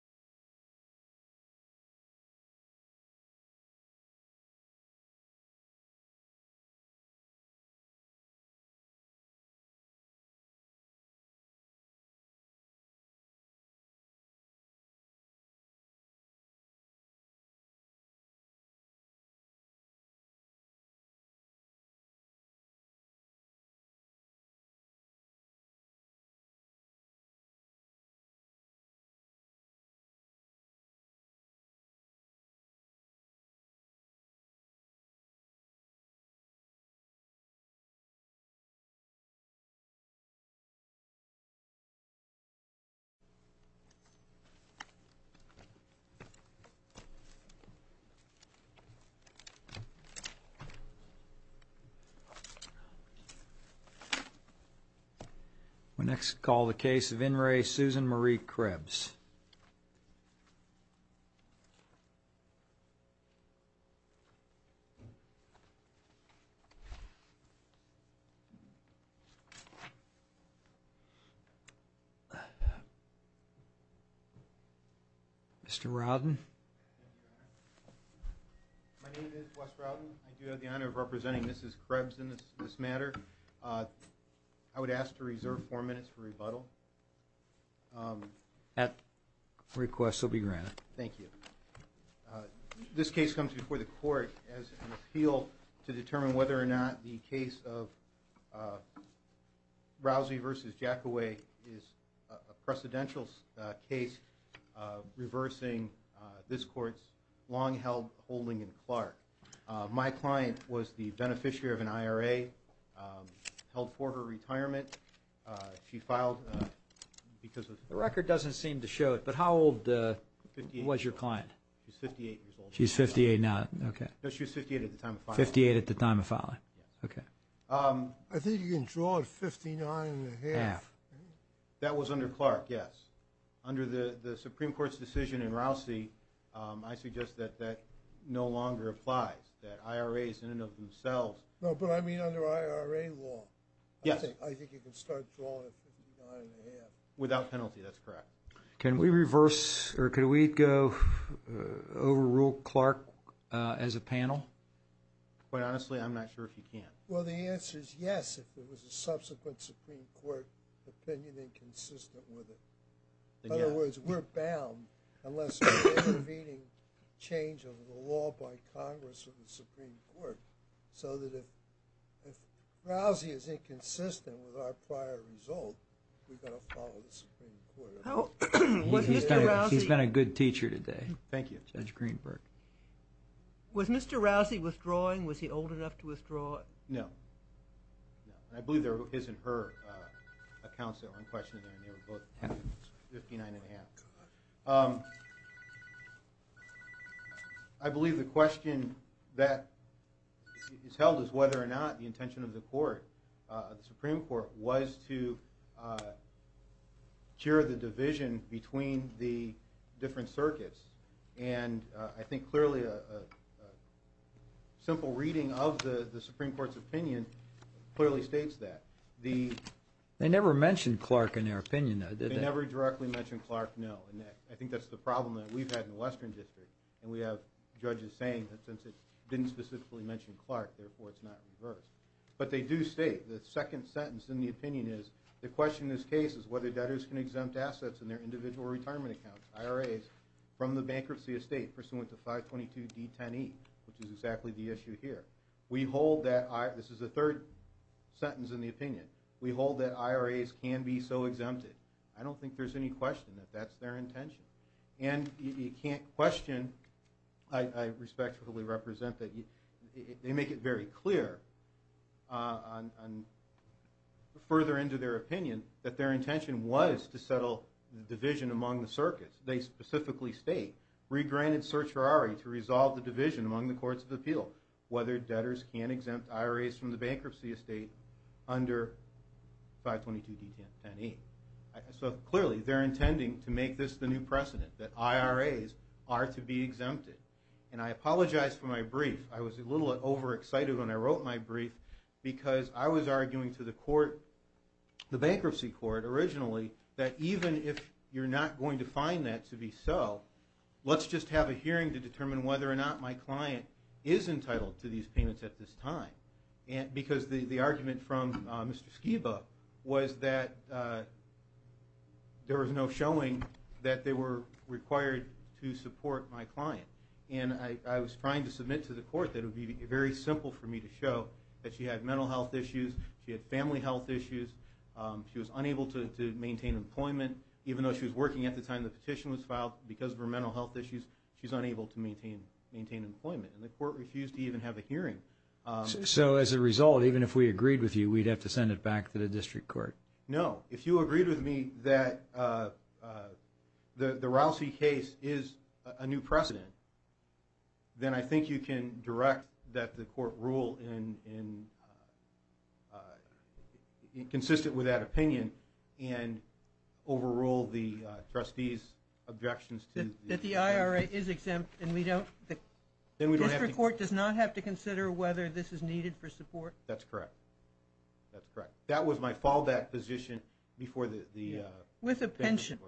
Susan Marie Krebs You You When X call the case of In re Susan Marie Krebs I Mr. Robin Representing mrs. Krebs in this matter. I would ask to reserve four minutes for rebuttal At Requests will be granted. Thank you this case comes before the court as an appeal to determine whether or not the case of Rousey versus Jack away is a precedential case Reversing this court's long held holding in Clark. My client was the beneficiary of an IRA held for her retirement she filed Because the record doesn't seem to show it but how old Was your client? She's 58 now. Okay. No, she's 58 at the time 58 at the time of filing. Okay. I think you can draw it That was under Clark yes under the the Supreme Court's decision in Rousey I suggest that that no longer applies that IRAs in and of themselves. No, but I mean under IRA law Yes Without penalty, that's correct. Can we reverse or could we go over rule Clark as a panel? Quite honestly, I'm not sure if you can't well, the answer is yes If it was a subsequent Supreme Court opinion inconsistent with it In other words, we're bound unless intervening change of the law by Congress or the Supreme Court so that if Rousey is inconsistent with our prior result He's been a good teacher today, thank you judge Greenberg Was mr. Rousey withdrawing was he old enough to withdraw it? No, I Believe there isn't her I believe the question that Is held is whether or not the intention of the court the Supreme Court was to Cure the division between the different circuits and I think clearly a Simple reading of the the Supreme Court's opinion Clearly states that the they never mentioned Clark in their opinion. They never directly mentioned Clark No I think that's the problem that we've had in the Western District and we have judges saying that since it didn't specifically mention Clark Therefore it's not reversed But they do state the second sentence in the opinion is the question this case is whether debtors can exempt assets in their individual retirement Accounts IRAs from the bankruptcy estate pursuant to 522 d10e which is exactly the issue here We hold that I this is the third Sentence in the opinion we hold that IRAs can be so exempted I don't think there's any question that that's their intention and you can't question. I Respectfully represent that you they make it very clear on Further into their opinion that their intention was to settle the division among the circuits They specifically state regranted search for Ari to resolve the division among the courts of appeal whether debtors can exempt IRAs from the bankruptcy estate under 522 d10e So clearly they're intending to make this the new precedent that IRAs are to be exempted and I apologize for my brief I was a little bit over excited when I wrote my brief because I was arguing to the court The bankruptcy court originally that even if you're not going to find that to be so Let's just have a hearing to determine whether or not my client is entitled to these payments at this time Because the the argument from mr. Skiba was that There was no showing that they were required to support my client And I was trying to submit to the court that would be very simple for me to show that she had mental health issues She had family health issues She was unable to maintain employment Even though she was working at the time the petition was filed because of her mental health issues She's unable to maintain maintain employment and the court refused to even have a hearing So as a result, even if we agreed with you we'd have to send it back to the district court No, if you agreed with me that The the Rousey case is a new precedent then I think you can direct that the court rule in Consistent with that opinion and overrule the trustees Objections that the IRA is exempt and we don't Then we don't report does not have to consider whether this is needed for support. That's correct That's correct. That was my fall that position before the with a pension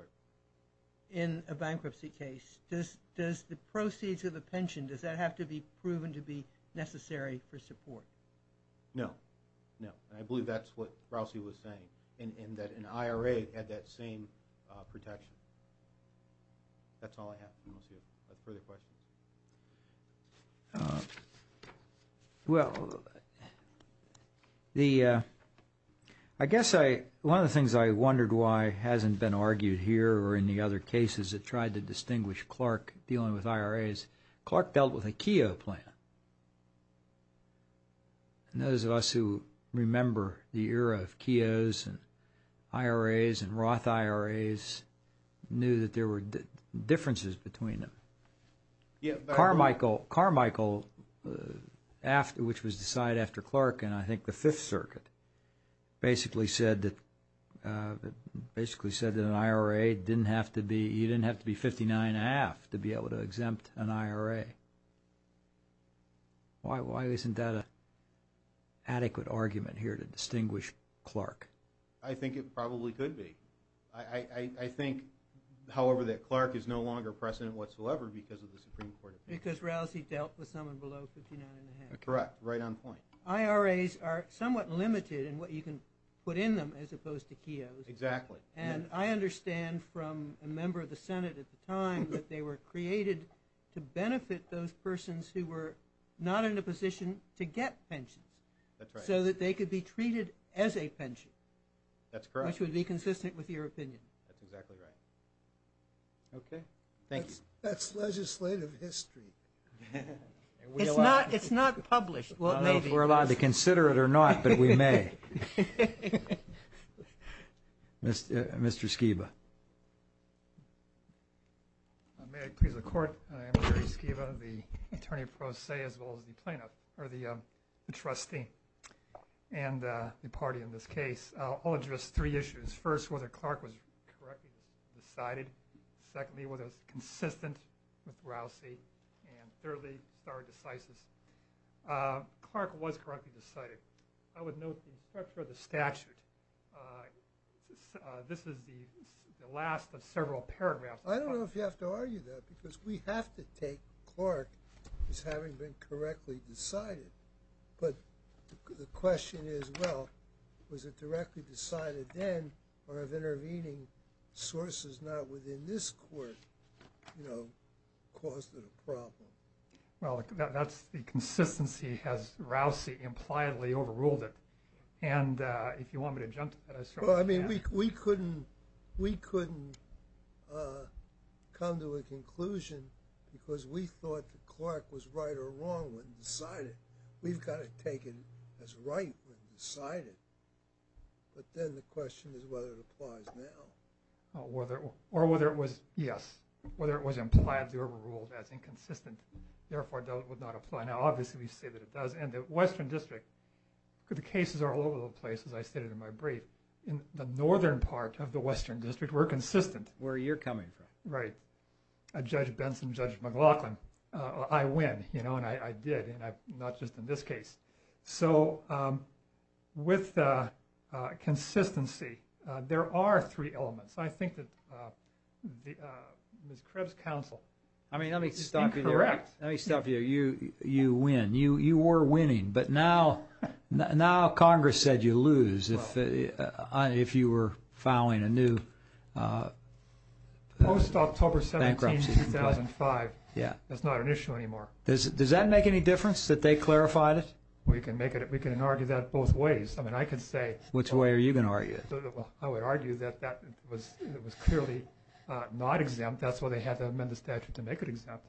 in A bankruptcy case this does the proceeds of the pension does that have to be proven to be necessary for support? No, no, I believe that's what Rousey was saying and in that an IRA had that same Protection Well The I Guess I one of the things I wondered why hasn't been argued here or in the other cases that tried to distinguish Clark Dealing with IRAs Clark dealt with a Keough plan And those of us who remember the era of Keough's and IRAs and Roth IRAs Knew that there were differences between them Yeah, Carmichael Carmichael After which was decided after Clark and I think the Fifth Circuit basically said that Basically said that an IRA didn't have to be you didn't have to be 59 a half to be able to exempt an IRA Why why isn't that a Distinguish Clark, I think it probably could be I Think however that Clark is no longer precedent whatsoever because of the Supreme Court because Rousey dealt with someone below Correct right on point IRAs are somewhat limited in what you can put in them as opposed to Keough's exactly And I understand from a member of the Senate at the time that they were created To benefit those persons who were not in a position to get pensions So that they could be treated as a pension, that's correct would be consistent with your opinion Okay, thanks, that's legislative history It's not published well, maybe we're allowed to consider it or not, but we may Miss mr. Skiba I May please the court. I am Jerry Skiba the attorney pro se as well as the plaintiff or the trustee and The party in this case. I'll address three issues first whether Clark was Decided secondly with us consistent with Rousey and thirdly started decisive Clark was correctly decided. I would note the structure of the statute I This is the last of several paragraphs I don't know if you have to argue that because we have to take Clark is having been correctly decided But the question is well, was it directly decided then or of intervening? Sources not within this court, you know Caused it a problem well, that's the consistency has Rousey impliedly overruled it and If you want me to jump, well, I mean we couldn't we couldn't Come to a conclusion because we thought the Clark was right or wrong when decided we've got to take it as right decided But then the question is whether it applies now Whether or whether it was yes, whether it was impliedly overruled as inconsistent Therefore don't would not apply now. Obviously we say that it does and the Western District Could the cases are all over the place as I stated in my brief in the northern part of the Western District We're consistent where you're coming from, right? Judge Benson judge McLaughlin. I win, you know, and I did and I'm not just in this case. So with Consistency, there are three elements. I think that Miss Krebs counsel, I mean, let me stop you. Correct. Let me stop you you you win you you were winning but now Congress said you lose if If you were filing a new Post October 2005 yeah, that's not an issue anymore. Does it does that make any difference that they clarified it? We can make it we can argue that both ways. I mean I could say which way are you gonna argue it? Well, I would argue that that was it was clearly Not exempt. That's what they had to amend the statute to make it exempt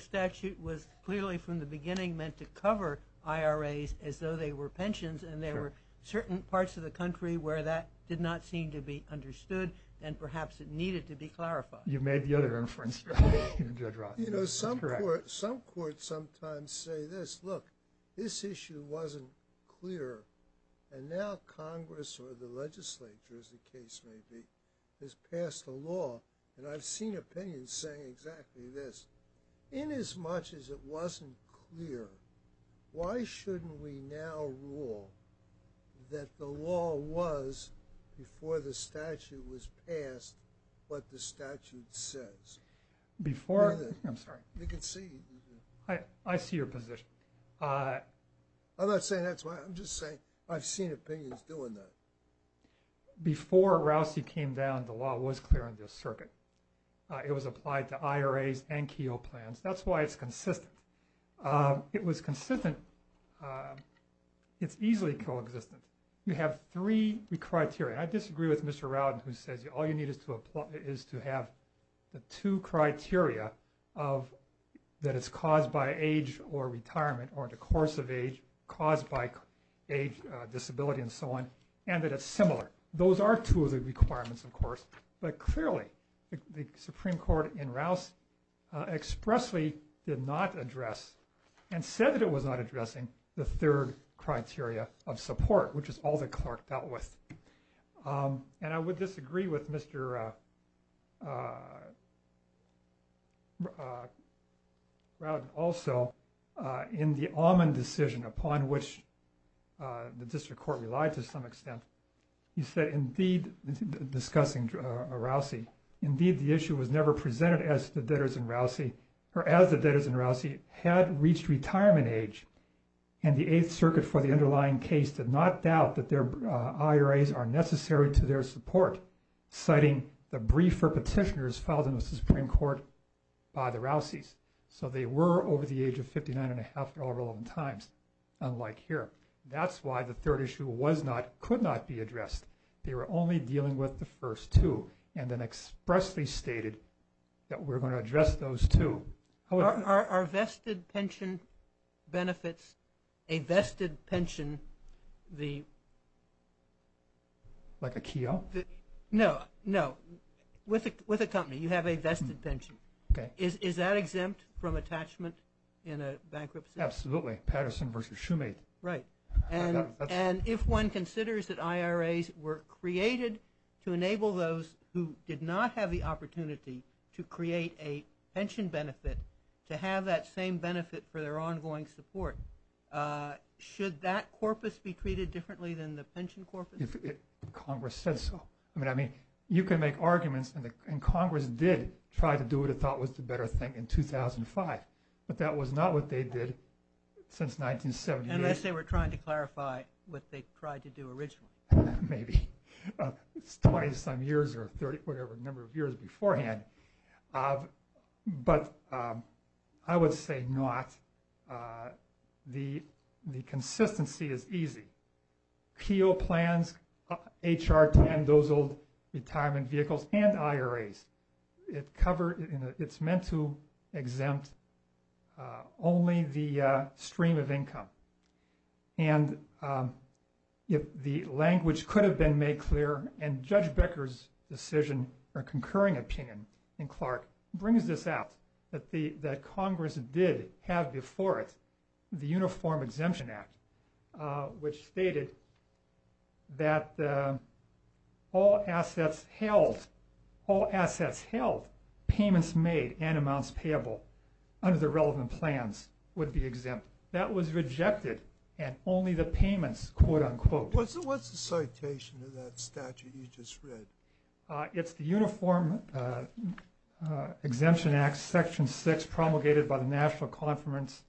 Statute was clearly from the beginning meant to cover IRAs as though they were pensions and there were certain parts of the country where that did not seem to be Understood and perhaps it needed to be clarified. You've made the other inference You know some court some court sometimes say this look this issue wasn't clear and now Congress or the legislature as the case may be has passed the law and I've seen opinions saying exactly this In as much as it wasn't clear Why shouldn't we now rule? That the law was Before the statute was passed What the statute says? Before I'm sorry, you can see I I see your position I'm not saying that's why I'm just saying I've seen opinions doing that Before Rousey came down the law was clear in this circuit It was applied to IRAs and Keogh plans, that's why it's consistent It was consistent It's easily coexistent you have three criteria. I disagree with mr. Rowden who says you all you need is to apply is to have the two criteria of That it's caused by age or retirement or the course of age caused by age Disability and so on and that it's similar. Those are two of the requirements, of course, but clearly the Supreme Court in Rouse Expressly did not address and said that it was not addressing the third criteria of support Which is all the clerk dealt with And I would disagree with mr Route also in the almond decision upon which The district court relied to some extent. He said indeed Discussing Rousey indeed the issue was never presented as the debtors and Rousey or as the debtors and Rousey had reached retirement age and The 8th Circuit for the underlying case did not doubt that their IRAs are necessary to their support Citing the brief for petitioners filed in the Supreme Court by the Rousey's So they were over the age of 59 and a half at all relevant times Unlike here, that's why the third issue was not could not be addressed They were only dealing with the first two and then expressly stated that we're going to address those two our vested pension benefits a vested pension the Like a keel no, no with it with a company you have a vested pension Okay, is that exempt from attachment in a bankruptcy absolutely Patterson versus Shoemake, right? and if one considers that IRAs were created to enable those who did not have the opportunity to Create a pension benefit to have that same benefit for their ongoing support Should that corpus be treated differently than the pension corpus? Congress says so I mean, I mean you can make arguments and the and Congress did try to do it I thought was the better thing in 2005, but that was not what they did Since 1970 unless they were trying to clarify what they tried to do originally maybe 20-some years or 30 whatever number of years beforehand But I would say not The the consistency is easy Peel plans HR to end those old retirement vehicles and IRAs it covered in its meant to exempt only the stream of income and If the language could have been made clear and judge Becker's Decision or concurring opinion in Clark brings this out that the that Congress did have before it the Uniform Exemption Act Which stated that All assets held All assets held payments made and amounts payable Under the relevant plans would be exempt that was rejected and only the payments quote-unquote What's the what's the citation of that statute you just read? It's the Uniform Exemption Act section 6 promulgated by the National Conference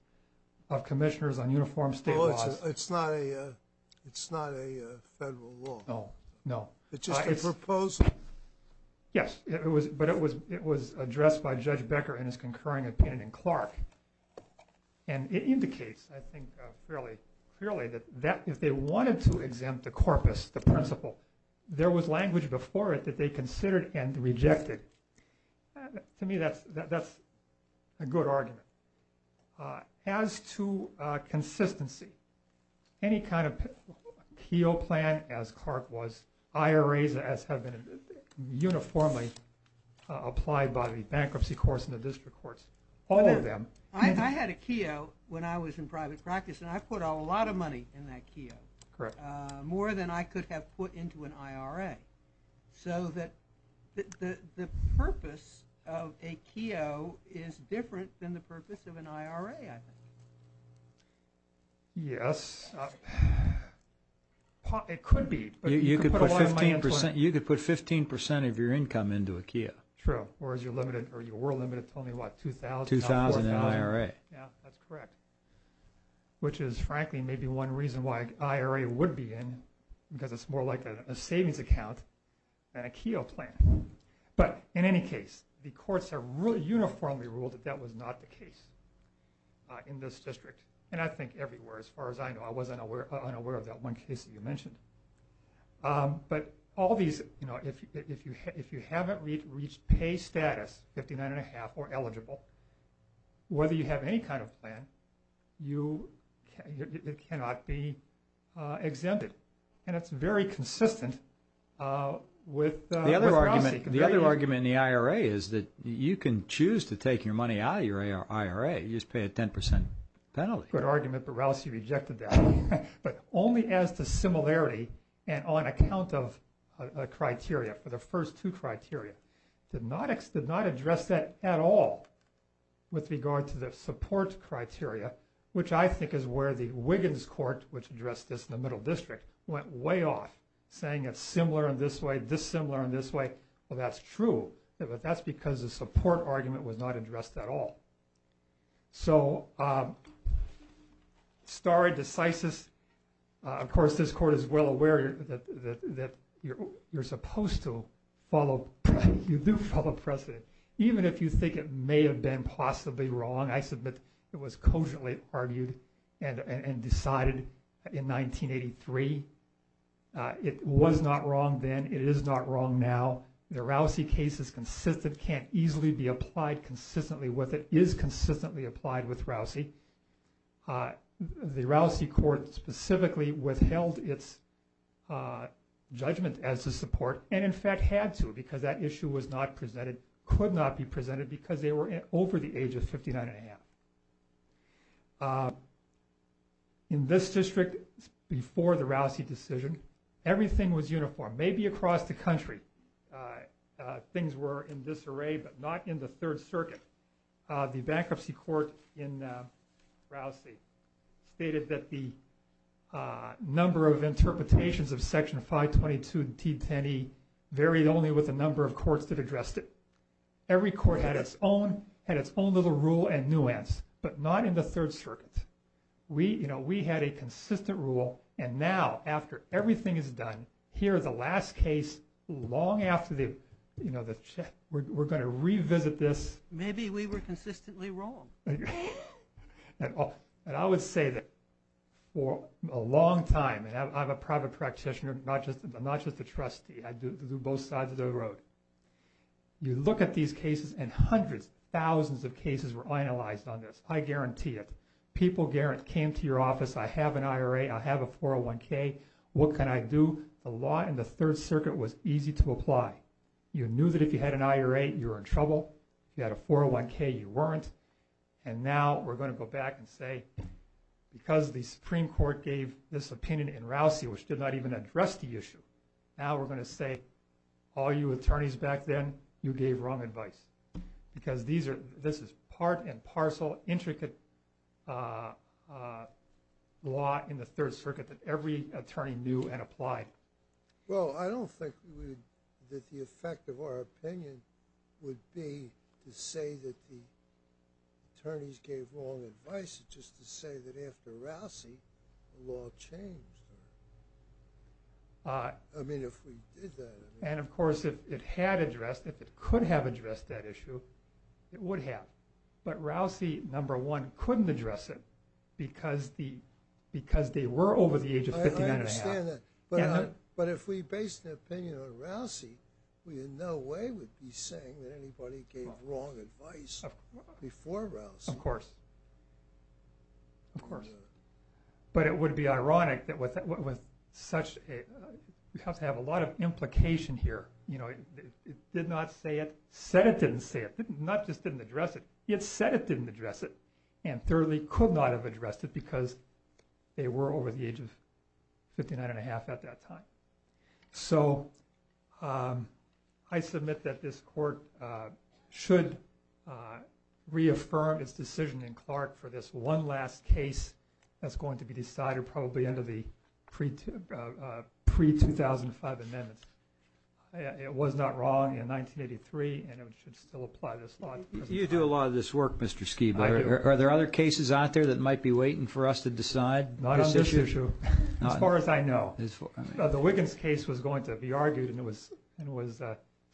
of Commissioners on Uniform State Yes, it was but it was it was addressed by judge Becker and his concurring opinion in Clark and It indicates I think fairly clearly that that if they wanted to exempt the corpus the principle There was language before it that they considered and rejected To me, that's that's a good argument As to Consistency any kind of Keogh plan as Clark was IRAs as have been uniformly Applied by the bankruptcy course in the district courts all of them I had a Keogh when I was in private practice and I've put a lot of money in that Keogh Correct more than I could have put into an IRA so that The purpose of a Keogh is different than the purpose of an IRA Yes It could be you could put 15% you could put 15% of your income into a Keogh true Or as you're limited or you were limited to only what two thousand two thousand IRA. Yeah, that's correct Which is frankly maybe one reason why IRA would be in because it's more like a savings account Keogh plan, but in any case the courts are really uniformly ruled that that was not the case In this district and I think everywhere as far as I know I wasn't aware unaware of that one case that you mentioned But all these you know, if you if you haven't read reach pay status fifty nine and a half or eligible Whether you have any kind of plan you Cannot be Exempted and it's very consistent With the other argument the other argument in the IRA is that you can choose to take your money out of your IRA You just pay a 10% penalty good argument, but Rousey rejected that but only as to similarity and on account of Criteria for the first two criteria did not X did not address that at all With regard to the support criteria, which I think is where the Wiggins court Which addressed this in the middle district went way off saying it's similar in this way dissimilar in this way Well, that's true. But that's because the support argument was not addressed at all so Starr decisis Of course, this court is well aware that that you're supposed to follow You do follow precedent even if you think it may have been possibly wrong It was cogently argued and and decided in 1983 It was not wrong. Then it is not wrong Now the Rousey case is consistent can't easily be applied consistently with it is consistently applied with Rousey The Rousey court specifically withheld its Judgment as to support and in fact had to because that issue was not presented Could not be presented because they were over the age of 59 and a half In this district before the Rousey decision everything was uniform maybe across the country things were in this array, but not in the Third Circuit the bankruptcy court in Rousey stated that the number of interpretations of section 522 t10e Varied only with a number of courts that addressed it Every court had its own had its own little rule and nuance but not in the Third Circuit We you know, we had a consistent rule and now after everything is done here the last case Long after the you know the check we're going to revisit this. Maybe we were consistently wrong And I would say that For a long time and I'm a private practitioner not just I'm not just a trustee I do both sides of the road You look at these cases and hundreds thousands of cases were analyzed on this. I guarantee it people Garrett came to your office I have an IRA. I have a 401k What can I do a lot and the Third Circuit was easy to apply? You knew that if you had an IRA you're in trouble. You had a 401k you weren't and now we're going to go back and say Because the Supreme Court gave this opinion in Rousey, which did not even address the issue now We're going to say all you attorneys back then you gave wrong advice Because these are this is part and parcel intricate Law in the Third Circuit that every attorney knew and applied well, I don't think that the effect of our opinion would be to say that the Attorneys gave wrong advice. It's just to say that after Rousey the law changed I mean And of course if it had addressed if it could have addressed that issue It would have but Rousey number one couldn't address it because the because they were over the age of 50 But if we based the opinion on Rousey, we had no way would be saying that anybody gave wrong advice Before Rousey, of course Of course But it would be ironic that was that what was such a you have to have a lot of implication here You know, it did not say it said it didn't say it not just didn't address it It said it didn't address it and thoroughly could not have addressed it because they were over the age of 59 and a half at that time so I submit that this court Should Reaffirm its decision in Clark for this one last case that's going to be decided probably end of the pre pre 2005 amendments It was not wrong in 1983 and it should still apply this lot. You do a lot of this work. Mr Skiba, are there other cases out there that might be waiting for us to decide not as issue as far as I know the Wiggins case was going to be argued and it was and was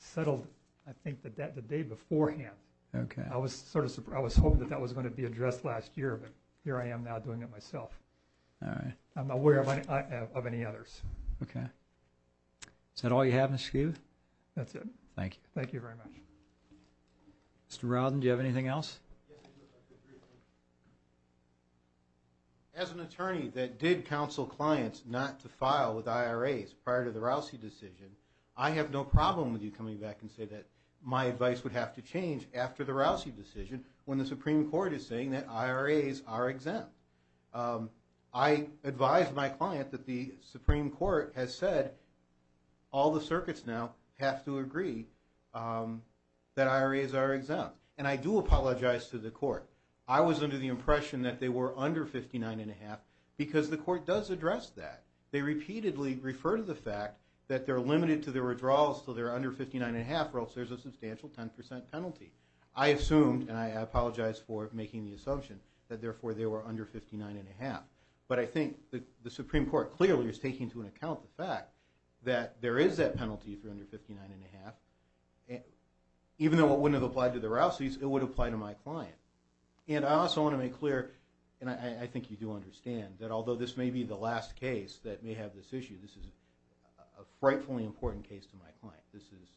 Settled I think that that the day beforehand Okay, I was sort of I was hoping that that was going to be addressed last year, but here I am now doing it myself All right. I'm aware of any others. Okay Said all you have in a skew. That's it. Thank you. Thank you very much Mr. Robin, do you have anything else? As an attorney that did counsel clients not to file with IRAs prior to the Rousey decision I have no problem with you coming back and say that my advice would have to change after the Rousey decision When the Supreme Court is saying that IRAs are exempt I Advise my client that the Supreme Court has said all the circuits now have to agree That IRAs are exempt and I do apologize to the court I was under the impression that they were under 59 and a half because the court does address that they repeatedly Refer to the fact that they're limited to their withdrawals till they're under 59 and a half or else There's a substantial 10% penalty I assumed and I apologize for making the assumption that therefore they were under 59 and a half But I think the Supreme Court clearly is taking to an account the fact that there is that penalty for under 59 and a half Even though it wouldn't have applied to the Rousey's it would apply to my client And I also want to make clear and I think you do understand that although this may be the last case that may have this issue this is a Frightfully important case to my client. This is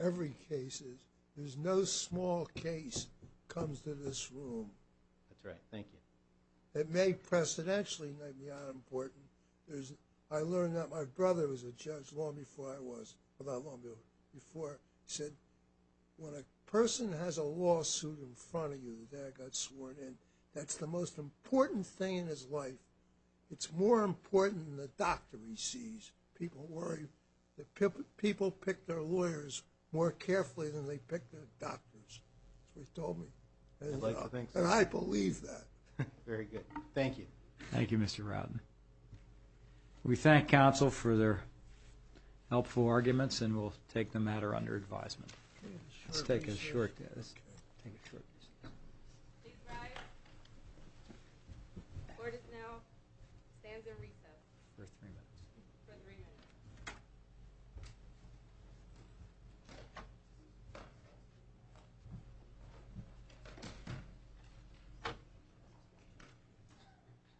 every case is there's no small case comes to this room That's right. Thank you. It may Precedentially not important. There's I learned that my brother was a judge long before I was about longer before said When a person has a lawsuit in front of you that got sworn in that's the most important thing in his life It's more important than the doctor he sees people worry that people people pick their lawyers more carefully than they pick Their doctors we told me And I believe that very good. Thank you. Thank you. Mr. Rodman we thank counsel for their Helpful arguments and we'll take the matter under advisement And the recess for three minutes